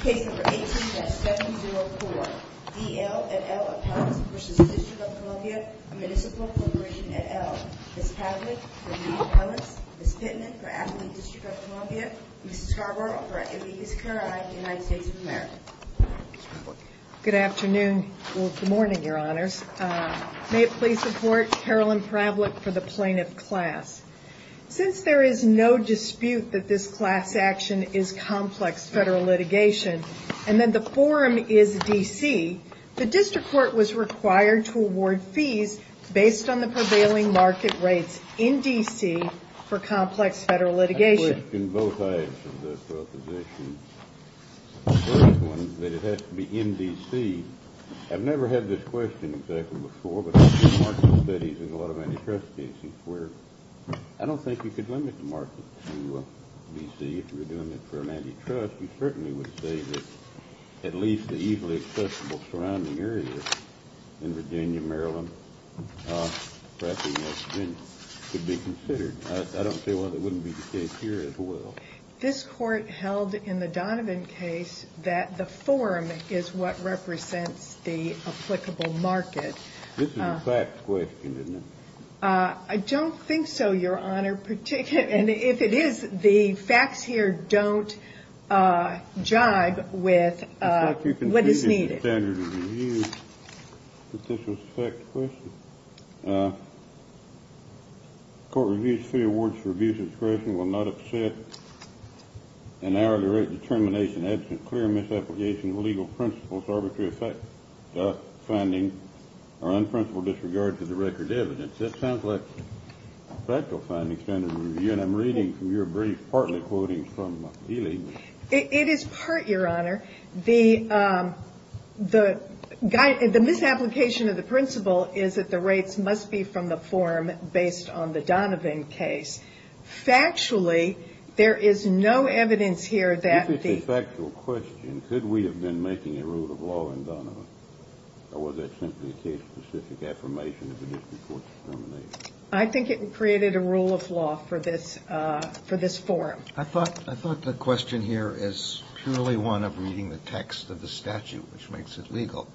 Case number 18-704, D.L. et al. of Pellis v. District of Columbia, A Municipal Corporation et al. Ms. Pavlik for D.L. Pellis, Ms. Pittman for Athlete District of Columbia, and Ms. Carver for A.D. East Carolina, United States of America. Good afternoon, well, good morning, your honors. May it please report, Carolyn Pravlick for the Plaintiff Class. Since there is no dispute that this class action is complex federal litigation, and that the forum is D.C., the district court was required to award fees based on the prevailing market rates in D.C. for complex federal litigation. I question both sides of this proposition. The first one is that it has to be in D.C. I've never had this question exactly before, but I've seen market studies in a lot of antitrust cases where I don't think you could limit the market to D.C. if you're doing it for an antitrust, we certainly would say that at least the easily accessible surrounding areas in Virginia, Maryland, perhaps in West Virginia, could be considered. I don't see why that wouldn't be the case here as well. This court held in the Donovan case that the forum is what represents the applicable market. This is a facts question, isn't it? I don't think so, your honor. If it is, the facts here don't jibe with what is needed. I'm reading from your brief, partly quoting from Ely. It is part, your honor. The misapplication of the principle is that the rates must be from the forum based on the Donovan case. Factually, there is no evidence here that the If it's a factual question, could we have been making a rule of law in Donovan? Or was that simply a case-specific affirmation of the district court's determination? I think it created a rule of law for this forum. I thought the question here is purely one of reading the text of the statute, which makes it legal.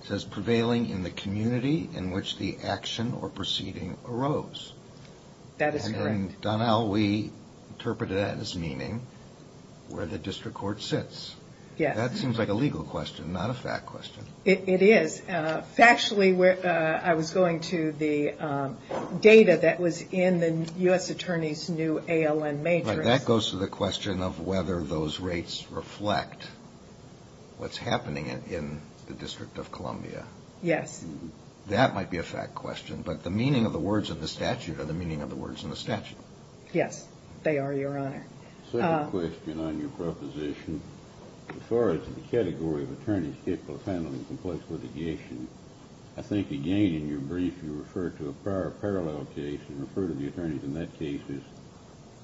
It says, prevailing in the community in which the action or proceeding arose. That is correct. And Donnell, we interpreted that as meaning where the district court sits. Yes. That seems like a legal question, not a fact question. It is. Factually, I was going to the data that was in the U.S. Attorney's new ALN matrix. That goes to the question of whether those rates reflect what's happening in the District of Columbia. Yes. That might be a fact question, but the meaning of the words in the statute are the meaning of the words in the statute. Yes, they are, your honor. Second question on your proposition. As far as the category of attorneys capable of handling complex litigation, I think, again, in your brief, you referred to a prior parallel case and referred to the attorneys in that case as,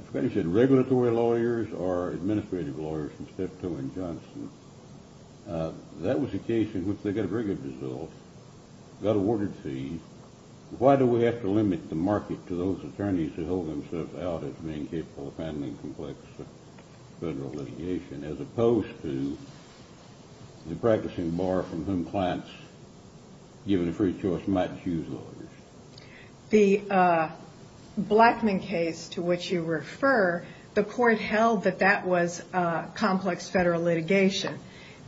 I forget if you said regulatory lawyers or administrative lawyers from Steptoe and Johnson. That was a case in which they got a very good result, got awarded fees. Why do we have to limit the market to those attorneys who hold themselves out as being capable of handling complex federal litigation, as opposed to the practicing bar from whom clients, given a free choice, might choose lawyers? The Blackman case to which you refer, the court held that that was complex federal litigation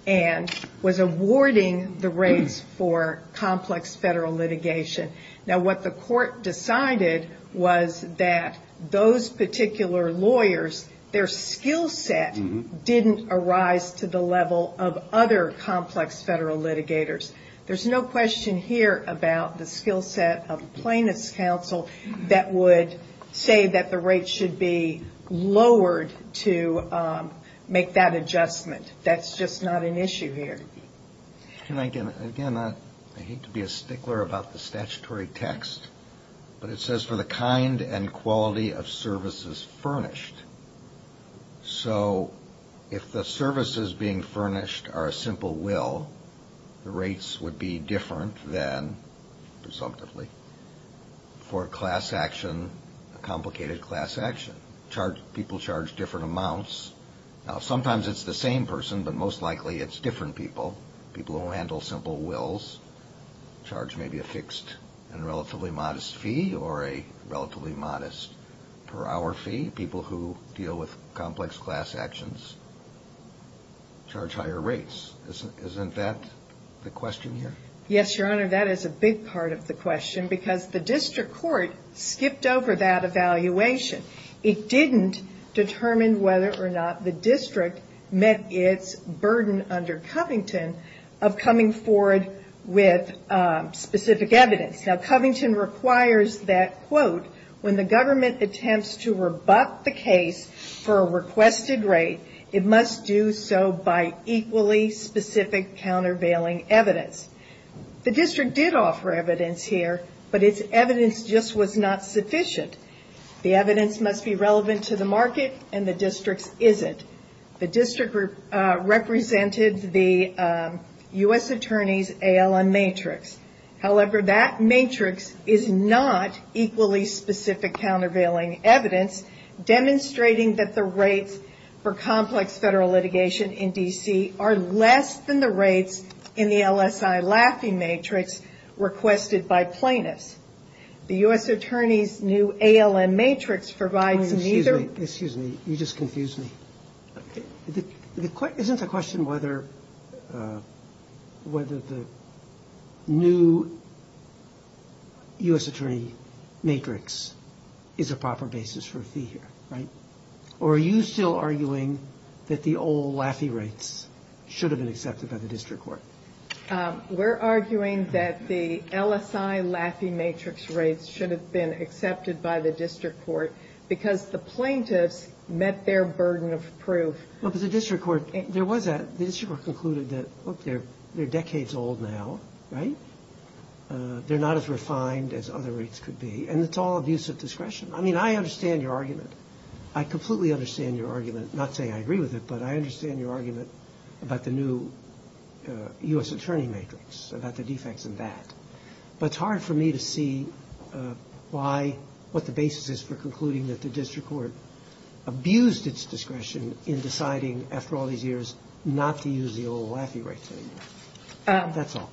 and was awarding the rates for complex federal litigation. Now, what the court decided was that those particular lawyers, their skill set didn't arise to the level of other complex federal litigators. There's no question here about the skill set of a plaintiff's counsel that would say that the rates should be lowered to make that adjustment. That's just not an issue here. Can I, again, I hate to be a stickler about the statutory text, but it says for the kind and quality of services furnished. So if the services being furnished are a simple will, the rates would be different than, presumptively, for a class action, a complicated class action. People charge different amounts. Now, sometimes it's the same person, but most likely it's different people. People who handle simple wills charge maybe a fixed and relatively modest fee or a relatively modest per hour fee. People who deal with complex class actions charge higher rates. Isn't that the question here? Yes, Your Honor, that is a big part of the question because the district court skipped over that evaluation. It didn't determine whether or not the district met its burden under Covington of coming forward with specific evidence. Now, Covington requires that, quote, when the government attempts to rebut the case for a requested rate, it must do so by equally specific countervailing evidence. The district did offer evidence here, but its evidence just was not sufficient. The evidence must be relevant to the market, and the district's isn't. The district represented the U.S. Attorney's ALM matrix. However, that matrix is not equally specific countervailing evidence, demonstrating that the rates for complex federal litigation in D.C. are less than the rates in the LSI Laffey matrix requested by plaintiffs. The U.S. Attorney's new ALM matrix provides neither. Excuse me. You just confused me. Isn't the question whether the new U.S. Attorney matrix is a proper basis for a fee here, right? Or are you still arguing that the old Laffey rates should have been accepted by the district court? We're arguing that the LSI Laffey matrix rates should have been accepted by the district court because the plaintiffs met their burden of proof. Well, but the district court, there was a, the district court concluded that, look, they're decades old now, right? They're not as refined as other rates could be. And it's all abuse of discretion. I mean, I understand your argument. I completely understand your argument, not saying I agree with it, but I understand your argument about the new U.S. Attorney matrix, about the defects in that. But it's hard for me to see why, what the basis is for concluding that the district court abused its discretion in deciding, after all these years, not to use the old Laffey rates anymore. That's all.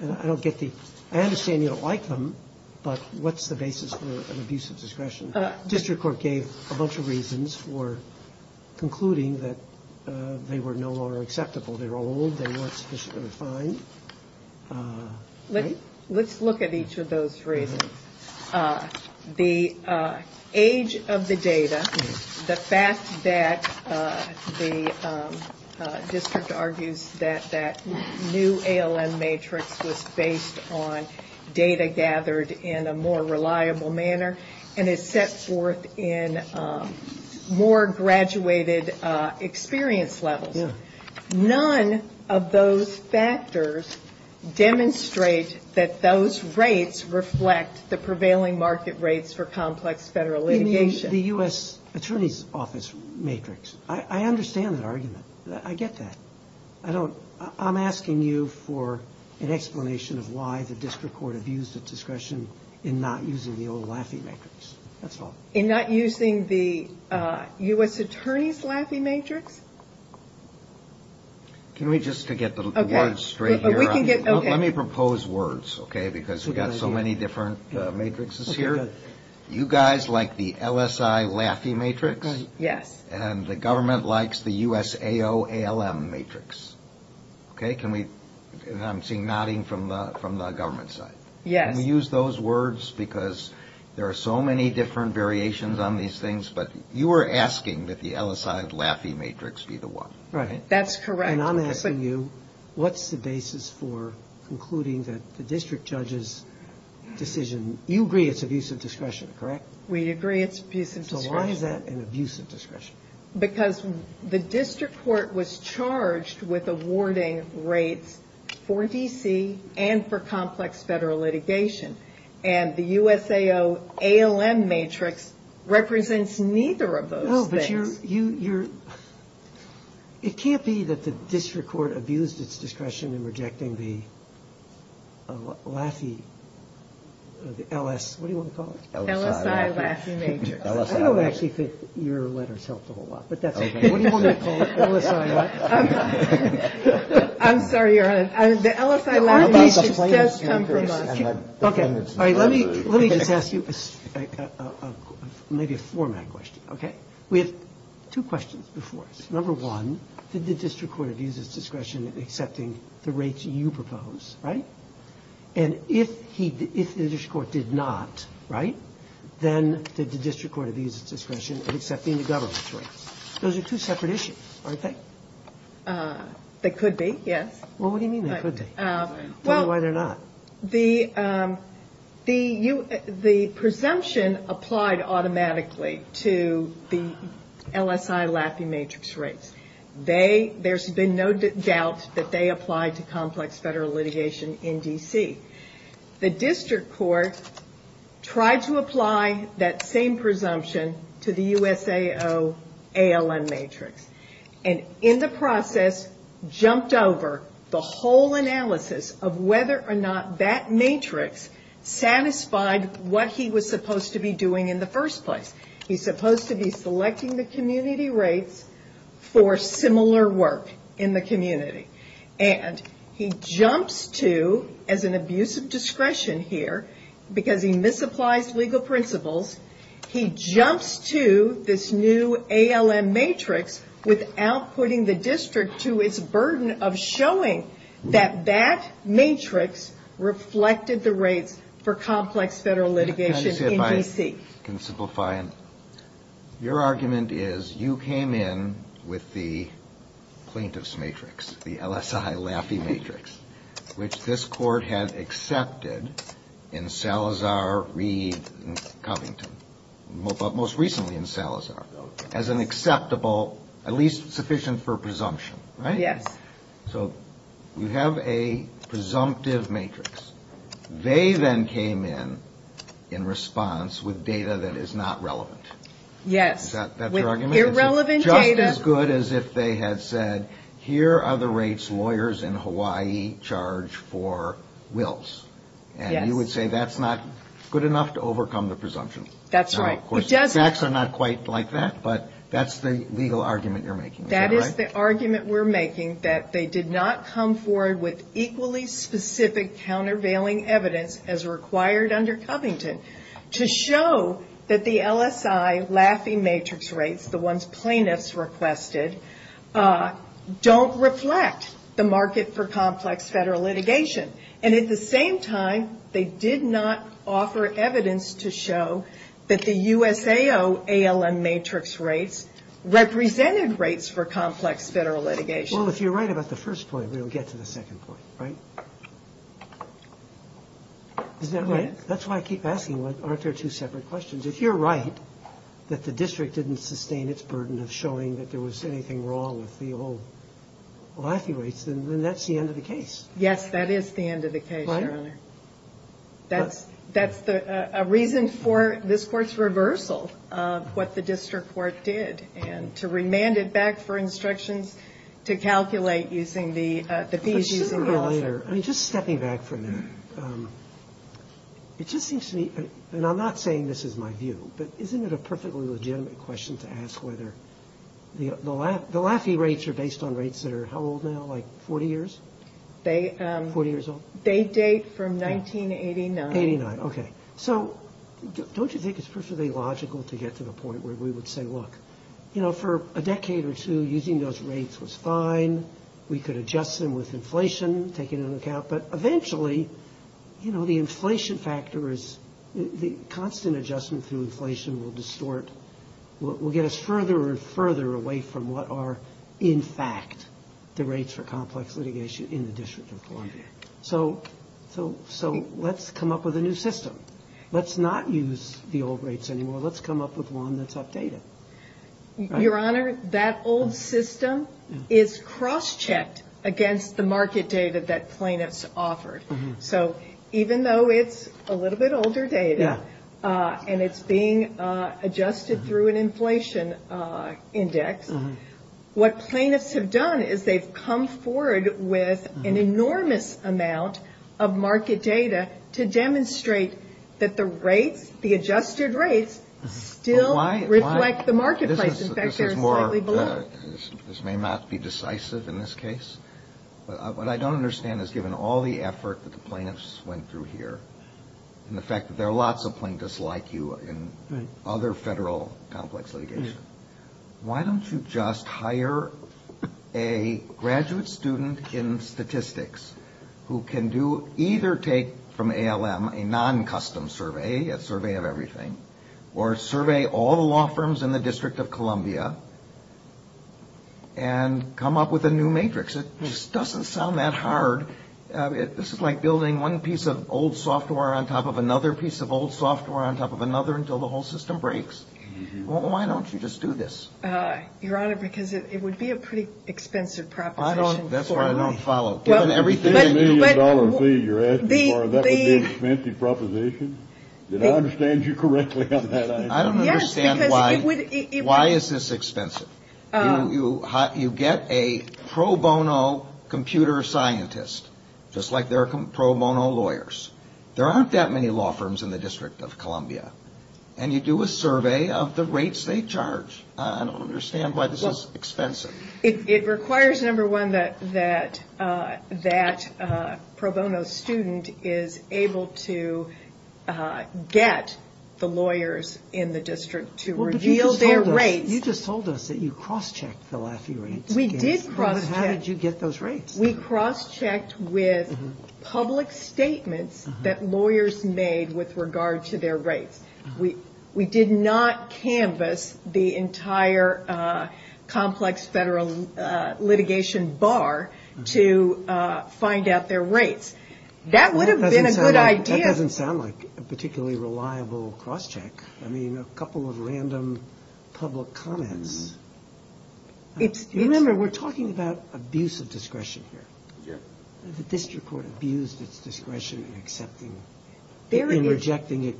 I don't get the, I understand you don't like them, but what's the basis for an abuse of discretion? The district court gave a bunch of reasons for concluding that they were no longer acceptable. They were old. They weren't sufficiently refined. Let's look at each of those reasons. The age of the data, the fact that the district argues that that new ALM matrix was based on data gathered in a more reliable manner and is set forth in more graduated experience levels. None of those factors demonstrate that those rates reflect the prevailing market rates for complex federal litigation. You mean the U.S. Attorney's Office matrix. I understand that argument. I get that. I'm asking you for an explanation of why the district court abused its discretion in not using the old Laffey matrix. That's all. In not using the U.S. Attorney's Laffey matrix? Can we just, to get the words straight here, let me propose words, okay, because we've got so many different matrices here. You guys like the LSI Laffey matrix. Yes. And the government likes the USAO ALM matrix. Okay? I'm seeing nodding from the government side. Yes. Can we use those words because there are so many different variations on these things, but you are asking that the LSI Laffey matrix be the one. Right. That's correct. And I'm asking you, what's the basis for concluding that the district judge's decision, you agree it's abusive discretion, correct? We agree it's abusive discretion. So why is that an abusive discretion? Because the district court was charged with awarding rates for D.C. and for complex federal litigation, and the USAO ALM matrix represents neither of those things. No, but you're, it can't be that the district court abused its discretion in rejecting the Laffey, the LS, what do you want to call it? LSI Laffey matrix. I don't actually think your letters helped a whole lot, but that's okay. What do you want me to call it, LSI Laffey? I'm sorry, Your Honor. The LSI Laffey matrix does come from us. Okay. All right. Let me just ask you maybe a format question, okay? We have two questions before us. Number one, did the district court abuse its discretion in accepting the rates you propose, right? And if the district court did not, right, then did the district court abuse its discretion in accepting the government's rates? Those are two separate issues, aren't they? They could be, yes. Well, what do you mean they could be? Tell me why they're not. The presumption applied automatically to the LSI Laffey matrix rates. There's been no doubt that they applied to complex federal litigation in D.C. The district court tried to apply that same presumption to the USAO ALN matrix and in the process jumped over the whole analysis of whether or not that matrix satisfied what he was supposed to be doing in the first place. He's supposed to be selecting the community rates for similar work in the community. And he jumps to, as an abuse of discretion here, because he misapplies legal principles, he jumps to this new ALN matrix without putting the district to its burden of showing that that matrix reflected the rates for complex federal litigation in D.C. Your argument is you came in with the plaintiff's matrix, the LSI Laffey matrix, which this court had accepted in Salazar, Reed, and Covington, but most recently in Salazar, as an acceptable, at least sufficient for presumption, right? Yes. So you have a presumptive matrix. They then came in in response with data that is not relevant. Yes. Is that your argument? With irrelevant data. Just as good as if they had said, here are the rates lawyers in Hawaii charge for wills. Yes. And you would say that's not good enough to overcome the presumption. That's right. Of course, the facts are not quite like that, but that's the legal argument you're making. That is the argument we're making, that they did not come forward with equally specific, countervailing evidence as required under Covington to show that the LSI Laffey matrix rates, the ones plaintiffs requested, don't reflect the market for complex federal litigation. And at the same time, they did not offer evidence to show that the USAO ALM matrix rates represented rates for complex federal litigation. Well, if you're right about the first point, we'll get to the second point, right? Is that right? Yes. That's why I keep asking, aren't there two separate questions? If you're right that the district didn't sustain its burden of showing that there was anything wrong with the old Laffey rates, then that's the end of the case. Yes, that is the end of the case, Your Honor. Right? That's the reason for this Court's reversal of what the district court did, and to remand it back for instructions to calculate using the fees using the other. But shouldn't the lawyer, I mean, just stepping back for a minute, it just seems to me, and I'm not saying this is my view, but isn't it a perfectly legitimate question to ask whether the Laffey rates are based on rates that are how old now, like 40 years? 40 years old? They date from 1989. 1989, okay. So don't you think it's perfectly logical to get to the point where we would say, look, you know, for a decade or two, using those rates was fine. We could adjust them with inflation, take it into account. But eventually, you know, the inflation factor is the constant adjustment through inflation will distort, will get us further and further away from what are, in fact, the rates for complex litigation in the District of Columbia. So let's come up with a new system. Let's not use the old rates anymore. Let's come up with one that's updated. Your Honor, that old system is cross-checked against the market data that plaintiffs offered. So even though it's a little bit older data and it's being adjusted through an inflation index, what plaintiffs have done is they've come forward with an enormous amount of market data to demonstrate that the rates, the adjusted rates, still reflect the marketplace. In fact, they're slightly below. This may not be decisive in this case. But what I don't understand is, given all the effort that the plaintiffs went through here, and the fact that there are lots of plaintiffs like you in other federal complex litigation, why don't you just hire a graduate student in statistics who can do either take from ALM a non-custom survey, a survey of everything, or survey all the law firms in the District of Columbia, and come up with a new matrix? It just doesn't sound that hard. This is like building one piece of old software on top of another piece of old software on top of another until the whole system breaks. Why don't you just do this? Your Honor, because it would be a pretty expensive proposition. That's why I don't follow. Given everything. The $10 million fee you're asking for, that would be an expensive proposition? Did I understand you correctly on that item? I don't understand why is this expensive. You get a pro bono computer scientist, just like there are pro bono lawyers. There aren't that many law firms in the District of Columbia. And you do a survey of the rates they charge. I don't understand why this is expensive. It requires, number one, that that pro bono student is able to get the lawyers in the District to reveal their rates. You just told us that you cross-checked the Laffey rates. We did cross-check. How did you get those rates? We cross-checked with public statements that lawyers made with regard to their rates. We did not canvass the entire complex federal litigation bar to find out their rates. That would have been a good idea. That doesn't sound like a particularly reliable cross-check. I mean, a couple of random public comments. Remember, we're talking about abuse of discretion here. The district court abused its discretion in accepting and rejecting it,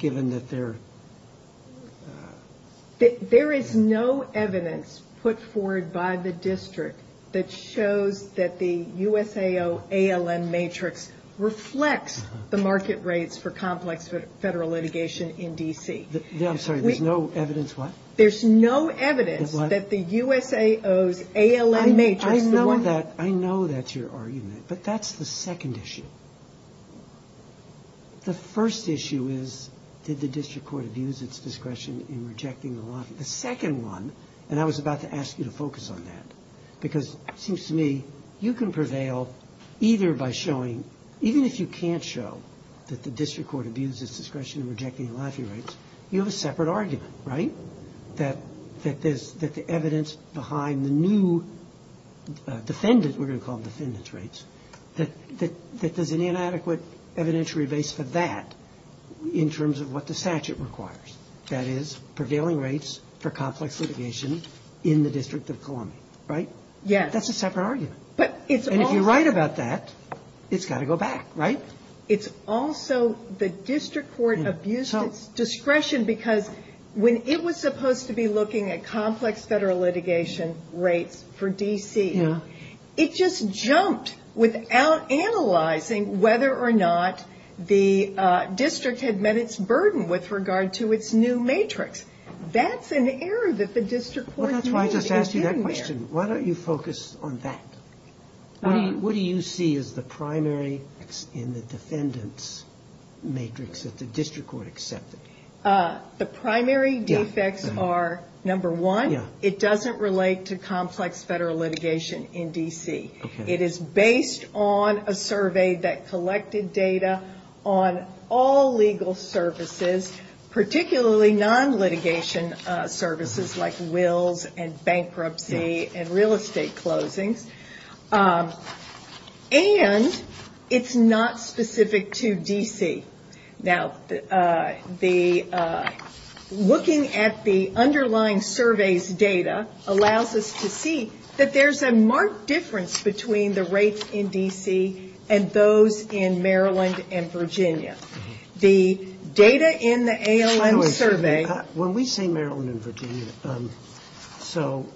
There is no evidence put forward by the district that shows that the USAO ALN matrix reflects the market rates for complex federal litigation in D.C. I'm sorry, there's no evidence what? There's no evidence that the USAO's ALN matrix. I know that. I know that's your argument. But that's the second issue. The first issue is, did the district court abuse its discretion in rejecting the Laffey? The second one, and I was about to ask you to focus on that, because it seems to me you can prevail either by showing, even if you can't show that the district court abused its discretion in rejecting the Laffey rates, you have a separate argument, right? That the evidence behind the new defendants, we're going to call them defendants rates, that there's an inadequate evidentiary base for that in terms of what the statute requires. That is, prevailing rates for complex litigation in the District of Columbia, right? Yes. That's a separate argument. But it's also. And if you're right about that, it's got to go back, right? It's also the district court abused its discretion because when it was supposed to be looking at complex federal litigation rates for D.C., it just jumped without analyzing whether or not the district had met its burden with regard to its new matrix. That's an error that the district court made. Well, that's why I just asked you that question. Why don't you focus on that? What do you see as the primary in the defendant's matrix that the district court accepted? The primary defects are, number one, it doesn't relate to complex federal litigation in D.C. It is based on a survey that collected data on all legal services, particularly non-litigation services like wills and bankruptcy and real estate closings. And it's not specific to D.C. Now, looking at the underlying survey's data allows us to see that there's a marked difference between the rates in D.C. and those in Maryland and Virginia. The data in the ALM survey. When we say Maryland and Virginia, so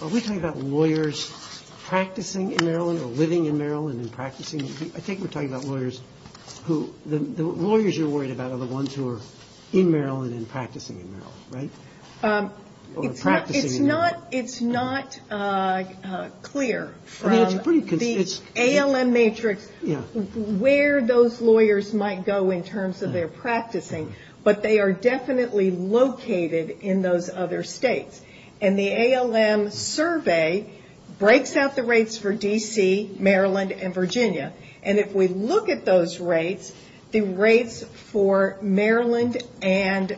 are we talking about lawyers practicing in Maryland or living in Maryland and practicing? I think we're talking about lawyers who the lawyers you're worried about are the ones who are in Maryland and practicing in Maryland, right? It's not clear from the ALM matrix where those lawyers might go in terms of their practicing, but they are definitely located in those other states. And the ALM survey breaks out the rates for D.C., Maryland, and Virginia. And if we look at those rates, the rates for Maryland and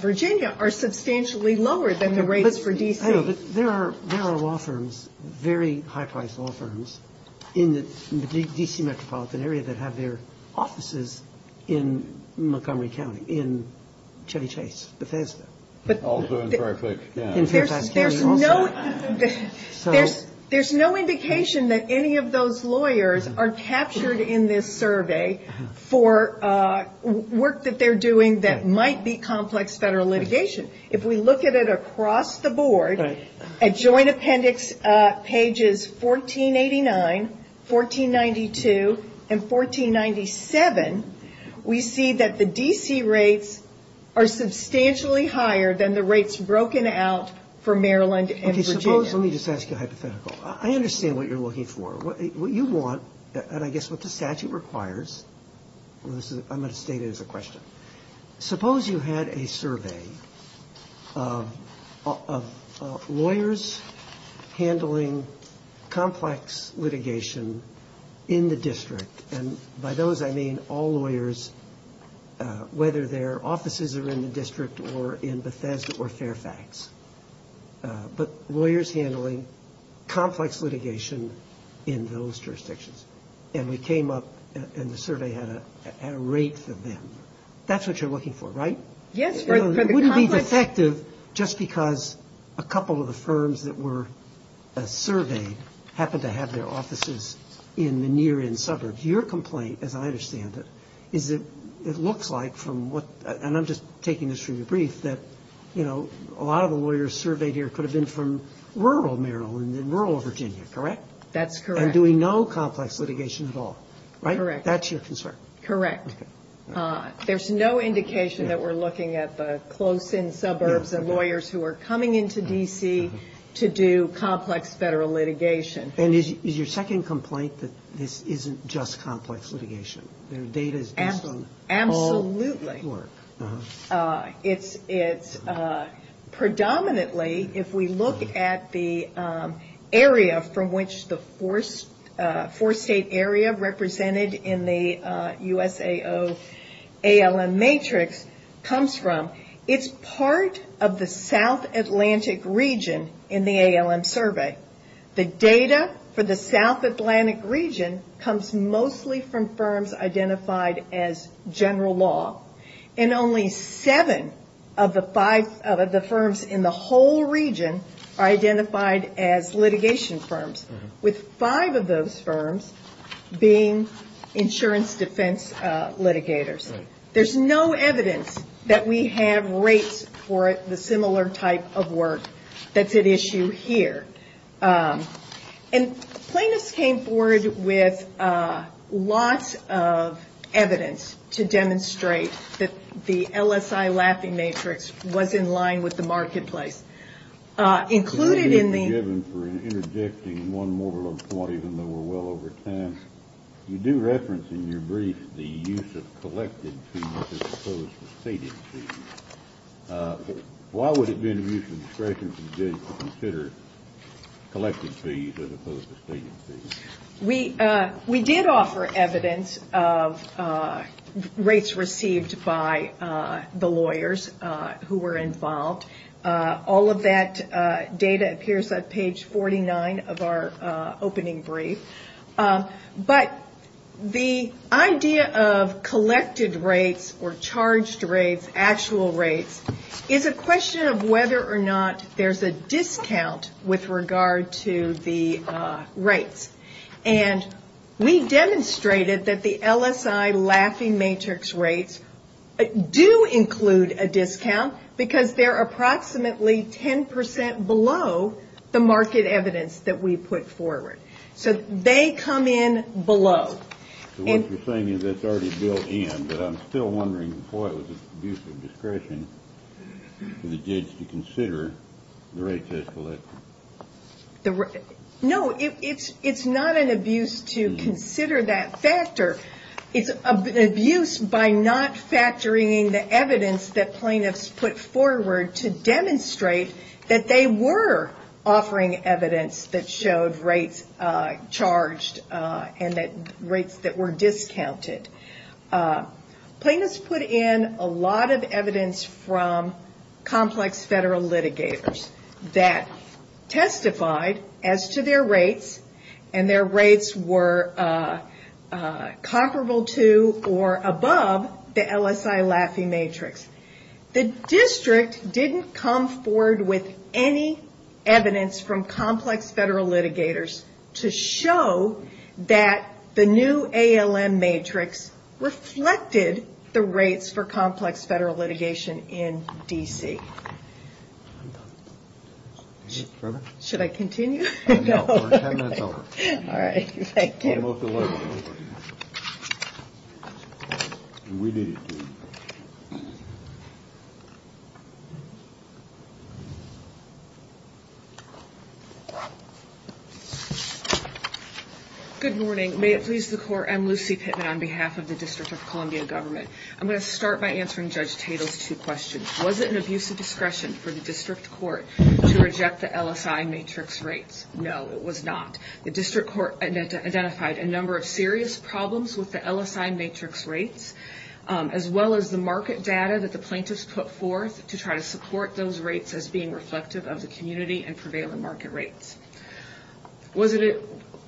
Virginia are substantially lower than the rates for D.C. I know, but there are law firms, very high-priced law firms in the D.C. metropolitan area that have their offices in Montgomery County, in Chevy Chase, Bethesda. Also in Fairfax County. There's no indication that any of those lawyers are captured in this survey for work that they're doing that might be complex federal litigation. If we look at it across the board, at joint appendix pages 1489, 1492, and 1497, we see that the D.C. rates are substantially higher than the rates broken out for Maryland and Virginia. Okay, suppose, let me just ask you a hypothetical. I understand what you're looking for. What you want, and I guess what the statute requires, I'm going to state it as a question. Suppose you had a survey of lawyers handling complex litigation in the district. And by those I mean all lawyers, whether their offices are in the district or in Bethesda or Fairfax. But lawyers handling complex litigation in those jurisdictions. And we came up and the survey had a rate for them. That's what you're looking for, right? Yes. It wouldn't be defective just because a couple of the firms that were surveyed happened to have their offices in the near-in suburbs. Your complaint, as I understand it, is that it looks like from what, and I'm just taking this from your brief, that a lot of the lawyers surveyed here could have been from rural Maryland and rural Virginia, correct? That's correct. And doing no complex litigation at all, right? Correct. That's your concern. Correct. There's no indication that we're looking at the close-in suburbs of lawyers who are coming into D.C. to do complex federal litigation. And is your second complaint that this isn't just complex litigation? Their data is based on all work. Absolutely. It's predominantly, if we look at the area from which the four-state area represented in the USAO ALM matrix comes from, it's part of the South Atlantic region in the ALM survey. The data for the South Atlantic region comes mostly from firms identified as general law. And only seven of the firms in the whole region are identified as litigation firms, with five of those firms being insurance defense litigators. There's no evidence that we have rates for the similar type of work that's at issue here. And Plaintiffs came forward with lots of evidence to demonstrate that the LSI laughing matrix was in line with the marketplace. You do reference in your brief the use of collected fees as opposed to stated fees. Why would it be in the use of discretion for judges to consider collected fees as opposed to stated fees? We did offer evidence of rates received by the lawyers who were involved. All of that data appears on page 49 of our opening brief. But the idea of collected rates or charged rates, actual rates, is a question of whether or not there's a discount with regard to the rates. And we demonstrated that the LSI laughing matrix rates do include a discount because they're approximately 10% below the market evidence that we put forward. So they come in below. So what you're saying is that's already built in, but I'm still wondering why it was an abuse of discretion for the judge to consider the rates as collected. No, it's not an abuse to consider that factor. It's an abuse by not factoring in the evidence that Plaintiffs put forward to demonstrate that they were offering evidence that showed rates charged and that rates that were discounted. Plaintiffs put in a lot of evidence from complex federal litigators that testified as to their rates and their rates were comparable to or above the LSI laughing matrix. The district didn't come forward with any evidence from complex federal litigators to show that the new ALM matrix reflected the rates for complex federal litigation in D.C. Should I continue? No, we're 10 minutes over. All right, thank you. Good morning. May it please the Court, I'm Lucy Pittman on behalf of the District of Columbia Government. I'm going to start by answering Judge Tatel's two questions. Was it an abuse of discretion for the District Court to reject the LSI matrix rates? No, it was not. The District Court identified a number of serious problems with the LSI matrix rates, as well as the market data that the Plaintiffs put forth to try to support those rates as being reflective of the community and prevailing market rates.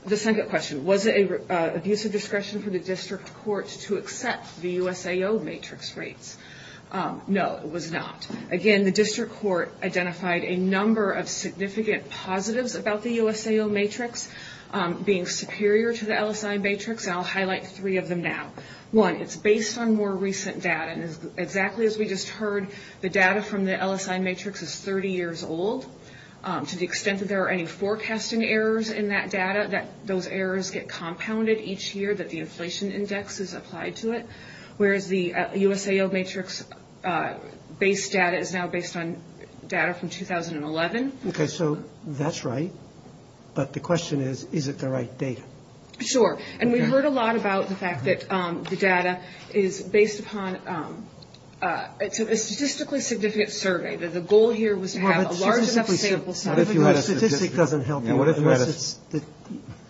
The second question, was it an abuse of discretion for the District Court to accept the USAO matrix rates? No, it was not. Again, the District Court identified a number of significant positives about the USAO matrix being superior to the LSI matrix, and I'll highlight three of them now. One, it's based on more recent data, and exactly as we just heard, the data from the LSI matrix is 30 years old. To the extent that there are any forecasting errors in that data, those errors get compounded each year that the inflation index is applied to it. Whereas the USAO matrix-based data is now based on data from 2011. Okay, so that's right. But the question is, is it the right data? Sure. And we've heard a lot about the fact that the data is based upon a statistically significant survey. The goal here was to have a large enough sample size. What if you had a statistic that doesn't help you?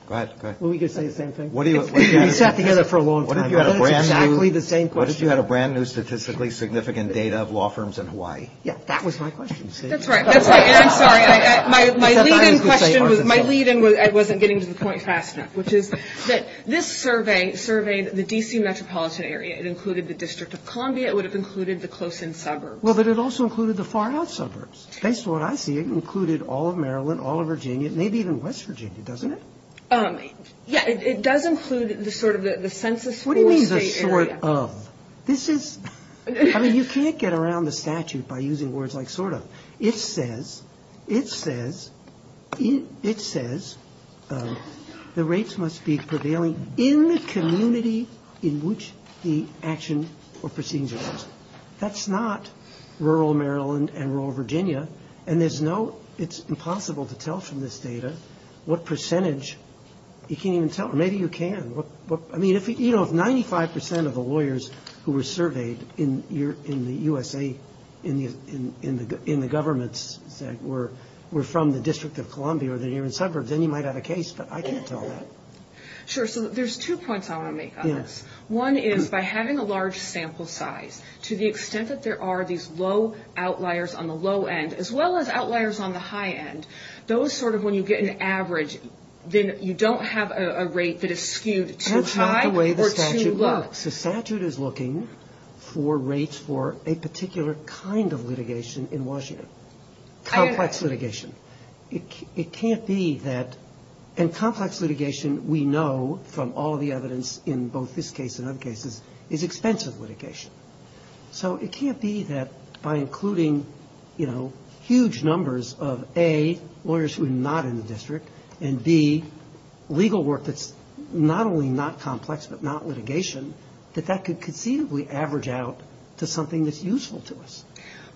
Go ahead. Well, we could say the same thing. We sat together for a long time. What if you had a brand new statistically significant data of law firms in Hawaii? Yeah, that was my question. That's right. That's right, and I'm sorry. My lead-in question was, my lead-in, I wasn't getting to the point fast enough, which is that this survey surveyed the D.C. metropolitan area. It included the District of Columbia. It would have included the close-in suburbs. Well, but it also included the far-out suburbs. Based on what I see, it included all of Maryland, all of Virginia, maybe even West Virginia, doesn't it? Yeah, it does include sort of the census for state area. What do you mean the sort of? This is, I mean, you can't get around the statute by using words like sort of. It says, it says, it says the rates must be prevailing in the community in which the action or procedure is. That's not rural Maryland and rural Virginia. And there's no, it's impossible to tell from this data what percentage. You can't even tell. Maybe you can. I mean, you know, if 95 percent of the lawyers who were surveyed in the U.S.A., in the governments were from the District of Columbia or the near-in suburbs, then you might have a case, but I can't tell that. Sure, so there's two points I want to make on this. One is, by having a large sample size, to the extent that there are these low outliers on the low end, as well as outliers on the high end, those sort of when you get an average, then you don't have a rate that is skewed too high or too low. That's not the way the statute looks. The statute is looking for rates for a particular kind of litigation in Washington, complex litigation. It can't be that, and complex litigation, we know from all the evidence in both this case and other cases, is expensive litigation. So it can't be that by including, you know, huge numbers of, A, lawyers who are not in the district, and, B, legal work that's not only not complex but not litigation, that that could conceivably average out to something that's useful to us.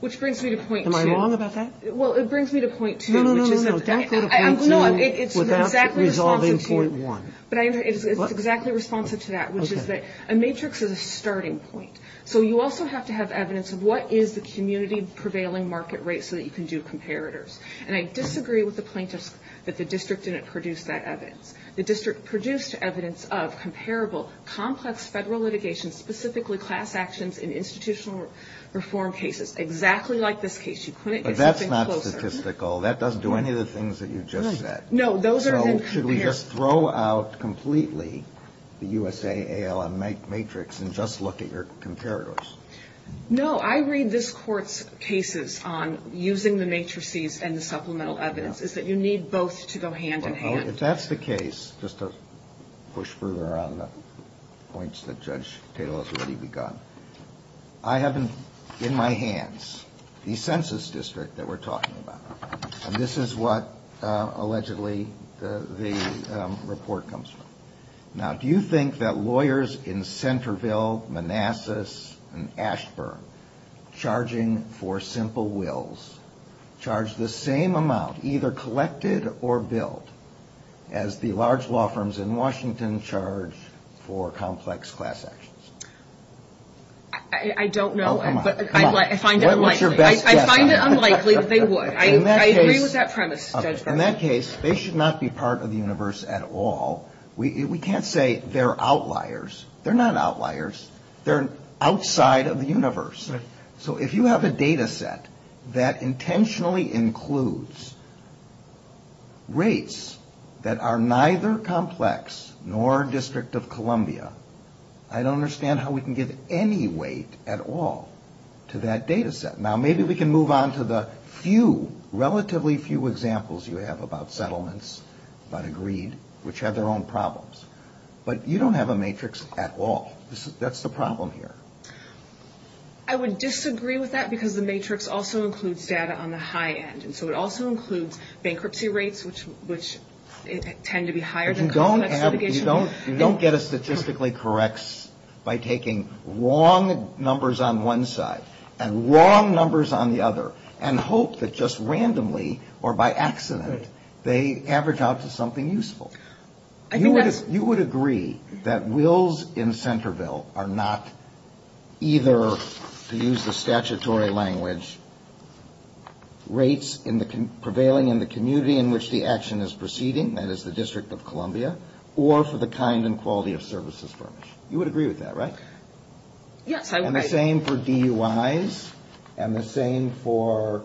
Which brings me to point two. Am I wrong about that? Well, it brings me to point two. No, no, no. Don't go to point two without resolving point one. But it's exactly responsive to that, which is that a matrix is a starting point. So you also have to have evidence of what is the community prevailing market rate so that you can do comparators. And I disagree with the plaintiffs that the district didn't produce that evidence. The district produced evidence of comparable, complex federal litigation, specifically class actions in institutional reform cases, exactly like this case. You couldn't get something closer. But that's not statistical. That doesn't do any of the things that you just said. Right. No, those are then comparators. So should we just throw out completely the USA ALM matrix and just look at your comparators? No. I read this Court's cases on using the matrices and the supplemental evidence, is that you need both to go hand in hand. Well, if that's the case, just to push further on the points that Judge Tatel has already begun, I have in my hands the census district that we're talking about. And this is what, allegedly, the report comes from. Now, do you think that lawyers in Centerville, Manassas, and Ashburn, charging for simple wills charge the same amount, either collected or billed, as the large law firms in Washington charge for complex class actions? I don't know. Oh, come on. Come on. I find it unlikely. What's your best guess? I find it unlikely that they would. I agree with that premise. In that case, they should not be part of the universe at all. We can't say they're outliers. They're not outliers. They're outside of the universe. Right. So if you have a data set that intentionally includes rates that are neither complex nor District of Columbia, I don't understand how we can give any weight at all to that data set. Now, maybe we can move on to the few, relatively few examples you have about settlements, about agreed, which have their own problems. But you don't have a matrix at all. That's the problem here. I would disagree with that because the matrix also includes data on the high end. And so it also includes bankruptcy rates, which tend to be higher than complex. You don't get a statistically correct by taking wrong numbers on one side and wrong numbers on the other and hope that just randomly or by accident they average out to something useful. You would agree that wills in Centerville are not either, to use the statutory language, rates prevailing in the community in which the action is proceeding, that is the District of Columbia, or for the kind and quality of services furnished. You would agree with that, right? Yes. And the same for DUIs and the same for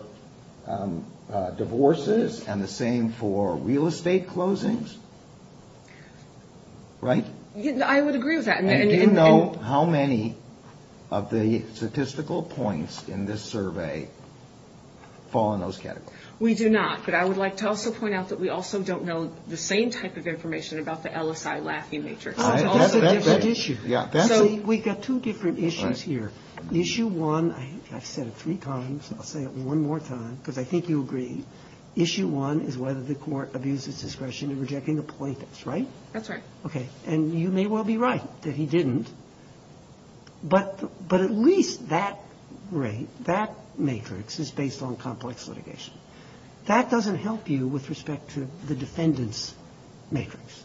divorces and the same for real estate closings, right? I would agree with that. And do you know how many of the statistical points in this survey fall in those categories? We do not. But I would like to also point out that we also don't know the same type of information about the LSI laughing matrix. That's a different issue. We've got two different issues here. Issue one, I've said it three times, I'll say it one more time because I think you'll agree, issue one is whether the court abuses discretion in rejecting the plaintiffs, right? That's right. Okay. And you may well be right that he didn't. But at least that rate, that matrix is based on complex litigation. That doesn't help you with respect to the defendant's matrix.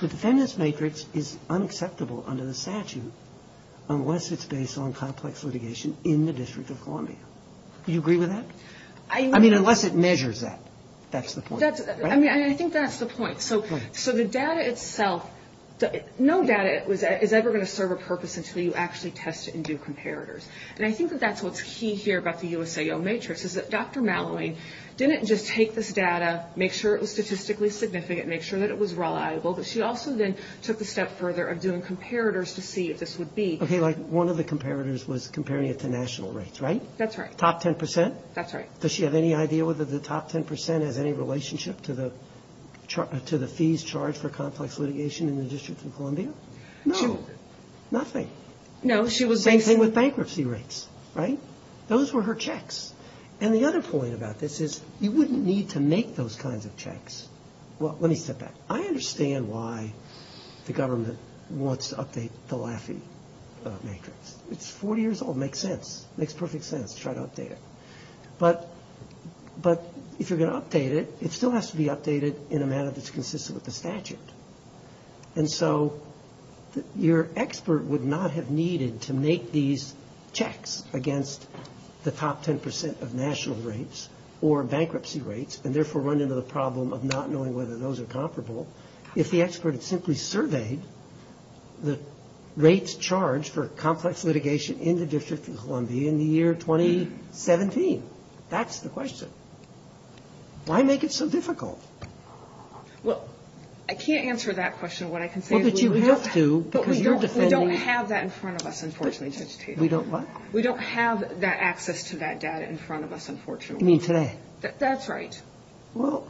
The defendant's matrix is unacceptable under the statute unless it's based on complex litigation in the District of Columbia. Do you agree with that? I mean, unless it measures that. That's the point. I mean, I think that's the point. So the data itself, no data is ever going to serve a purpose until you actually test it and do comparators. And I think that that's what's key here about the USAO matrix is that Dr. Malloween didn't just take this data, make sure it was statistically significant, make sure that it was reliable, but she also then took the step further of doing comparators to see if this would be. Okay, like one of the comparators was comparing it to national rates, right? That's right. Top 10 percent? That's right. Does she have any idea whether the top 10 percent has any relationship to the fees charged for complex litigation in the District of Columbia? No. Nothing. No. Same thing with bankruptcy rates, right? Those were her checks. And the other point about this is you wouldn't need to make those kinds of checks. Well, let me step back. I understand why the government wants to update the Laffey matrix. It's 40 years old. It makes sense. Let's try to update it. But if you're going to update it, it still has to be updated in a manner that's consistent with the statute. And so your expert would not have needed to make these checks against the top 10 percent of national rates or bankruptcy rates and therefore run into the problem of not knowing whether those are comparable. If the expert had simply surveyed the rates charged for complex litigation in the District of Columbia in the year 2017, that's the question. Why make it so difficult? Well, I can't answer that question. What I can say is we don't have that in front of us, unfortunately, Judge Tatum. We don't what? We don't have that access to that data in front of us, unfortunately. You mean today? That's right. Well,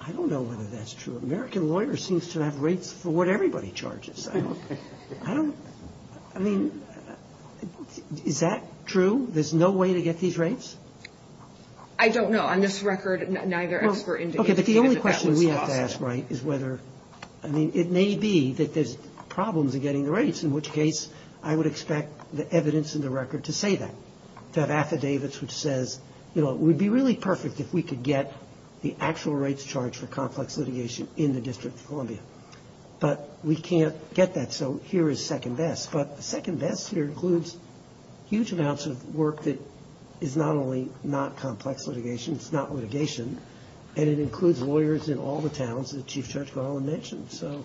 I don't know whether that's true. American lawyers seem to have rates for what everybody charges. I mean, is that true? There's no way to get these rates? I don't know. On this record, neither expert indicated that that was possible. Okay, but the only question we have to ask, right, is whether – I mean, it may be that there's problems in getting the rates, in which case I would expect the evidence in the record to say that, to have affidavits which says, you know, it would be really perfect if we could get the actual rates charged for complex litigation in the District of Columbia. But we can't get that, so here is second best. But second best here includes huge amounts of work that is not only not complex litigation, it's not litigation, and it includes lawyers in all the towns that Chief Judge Garland mentioned. So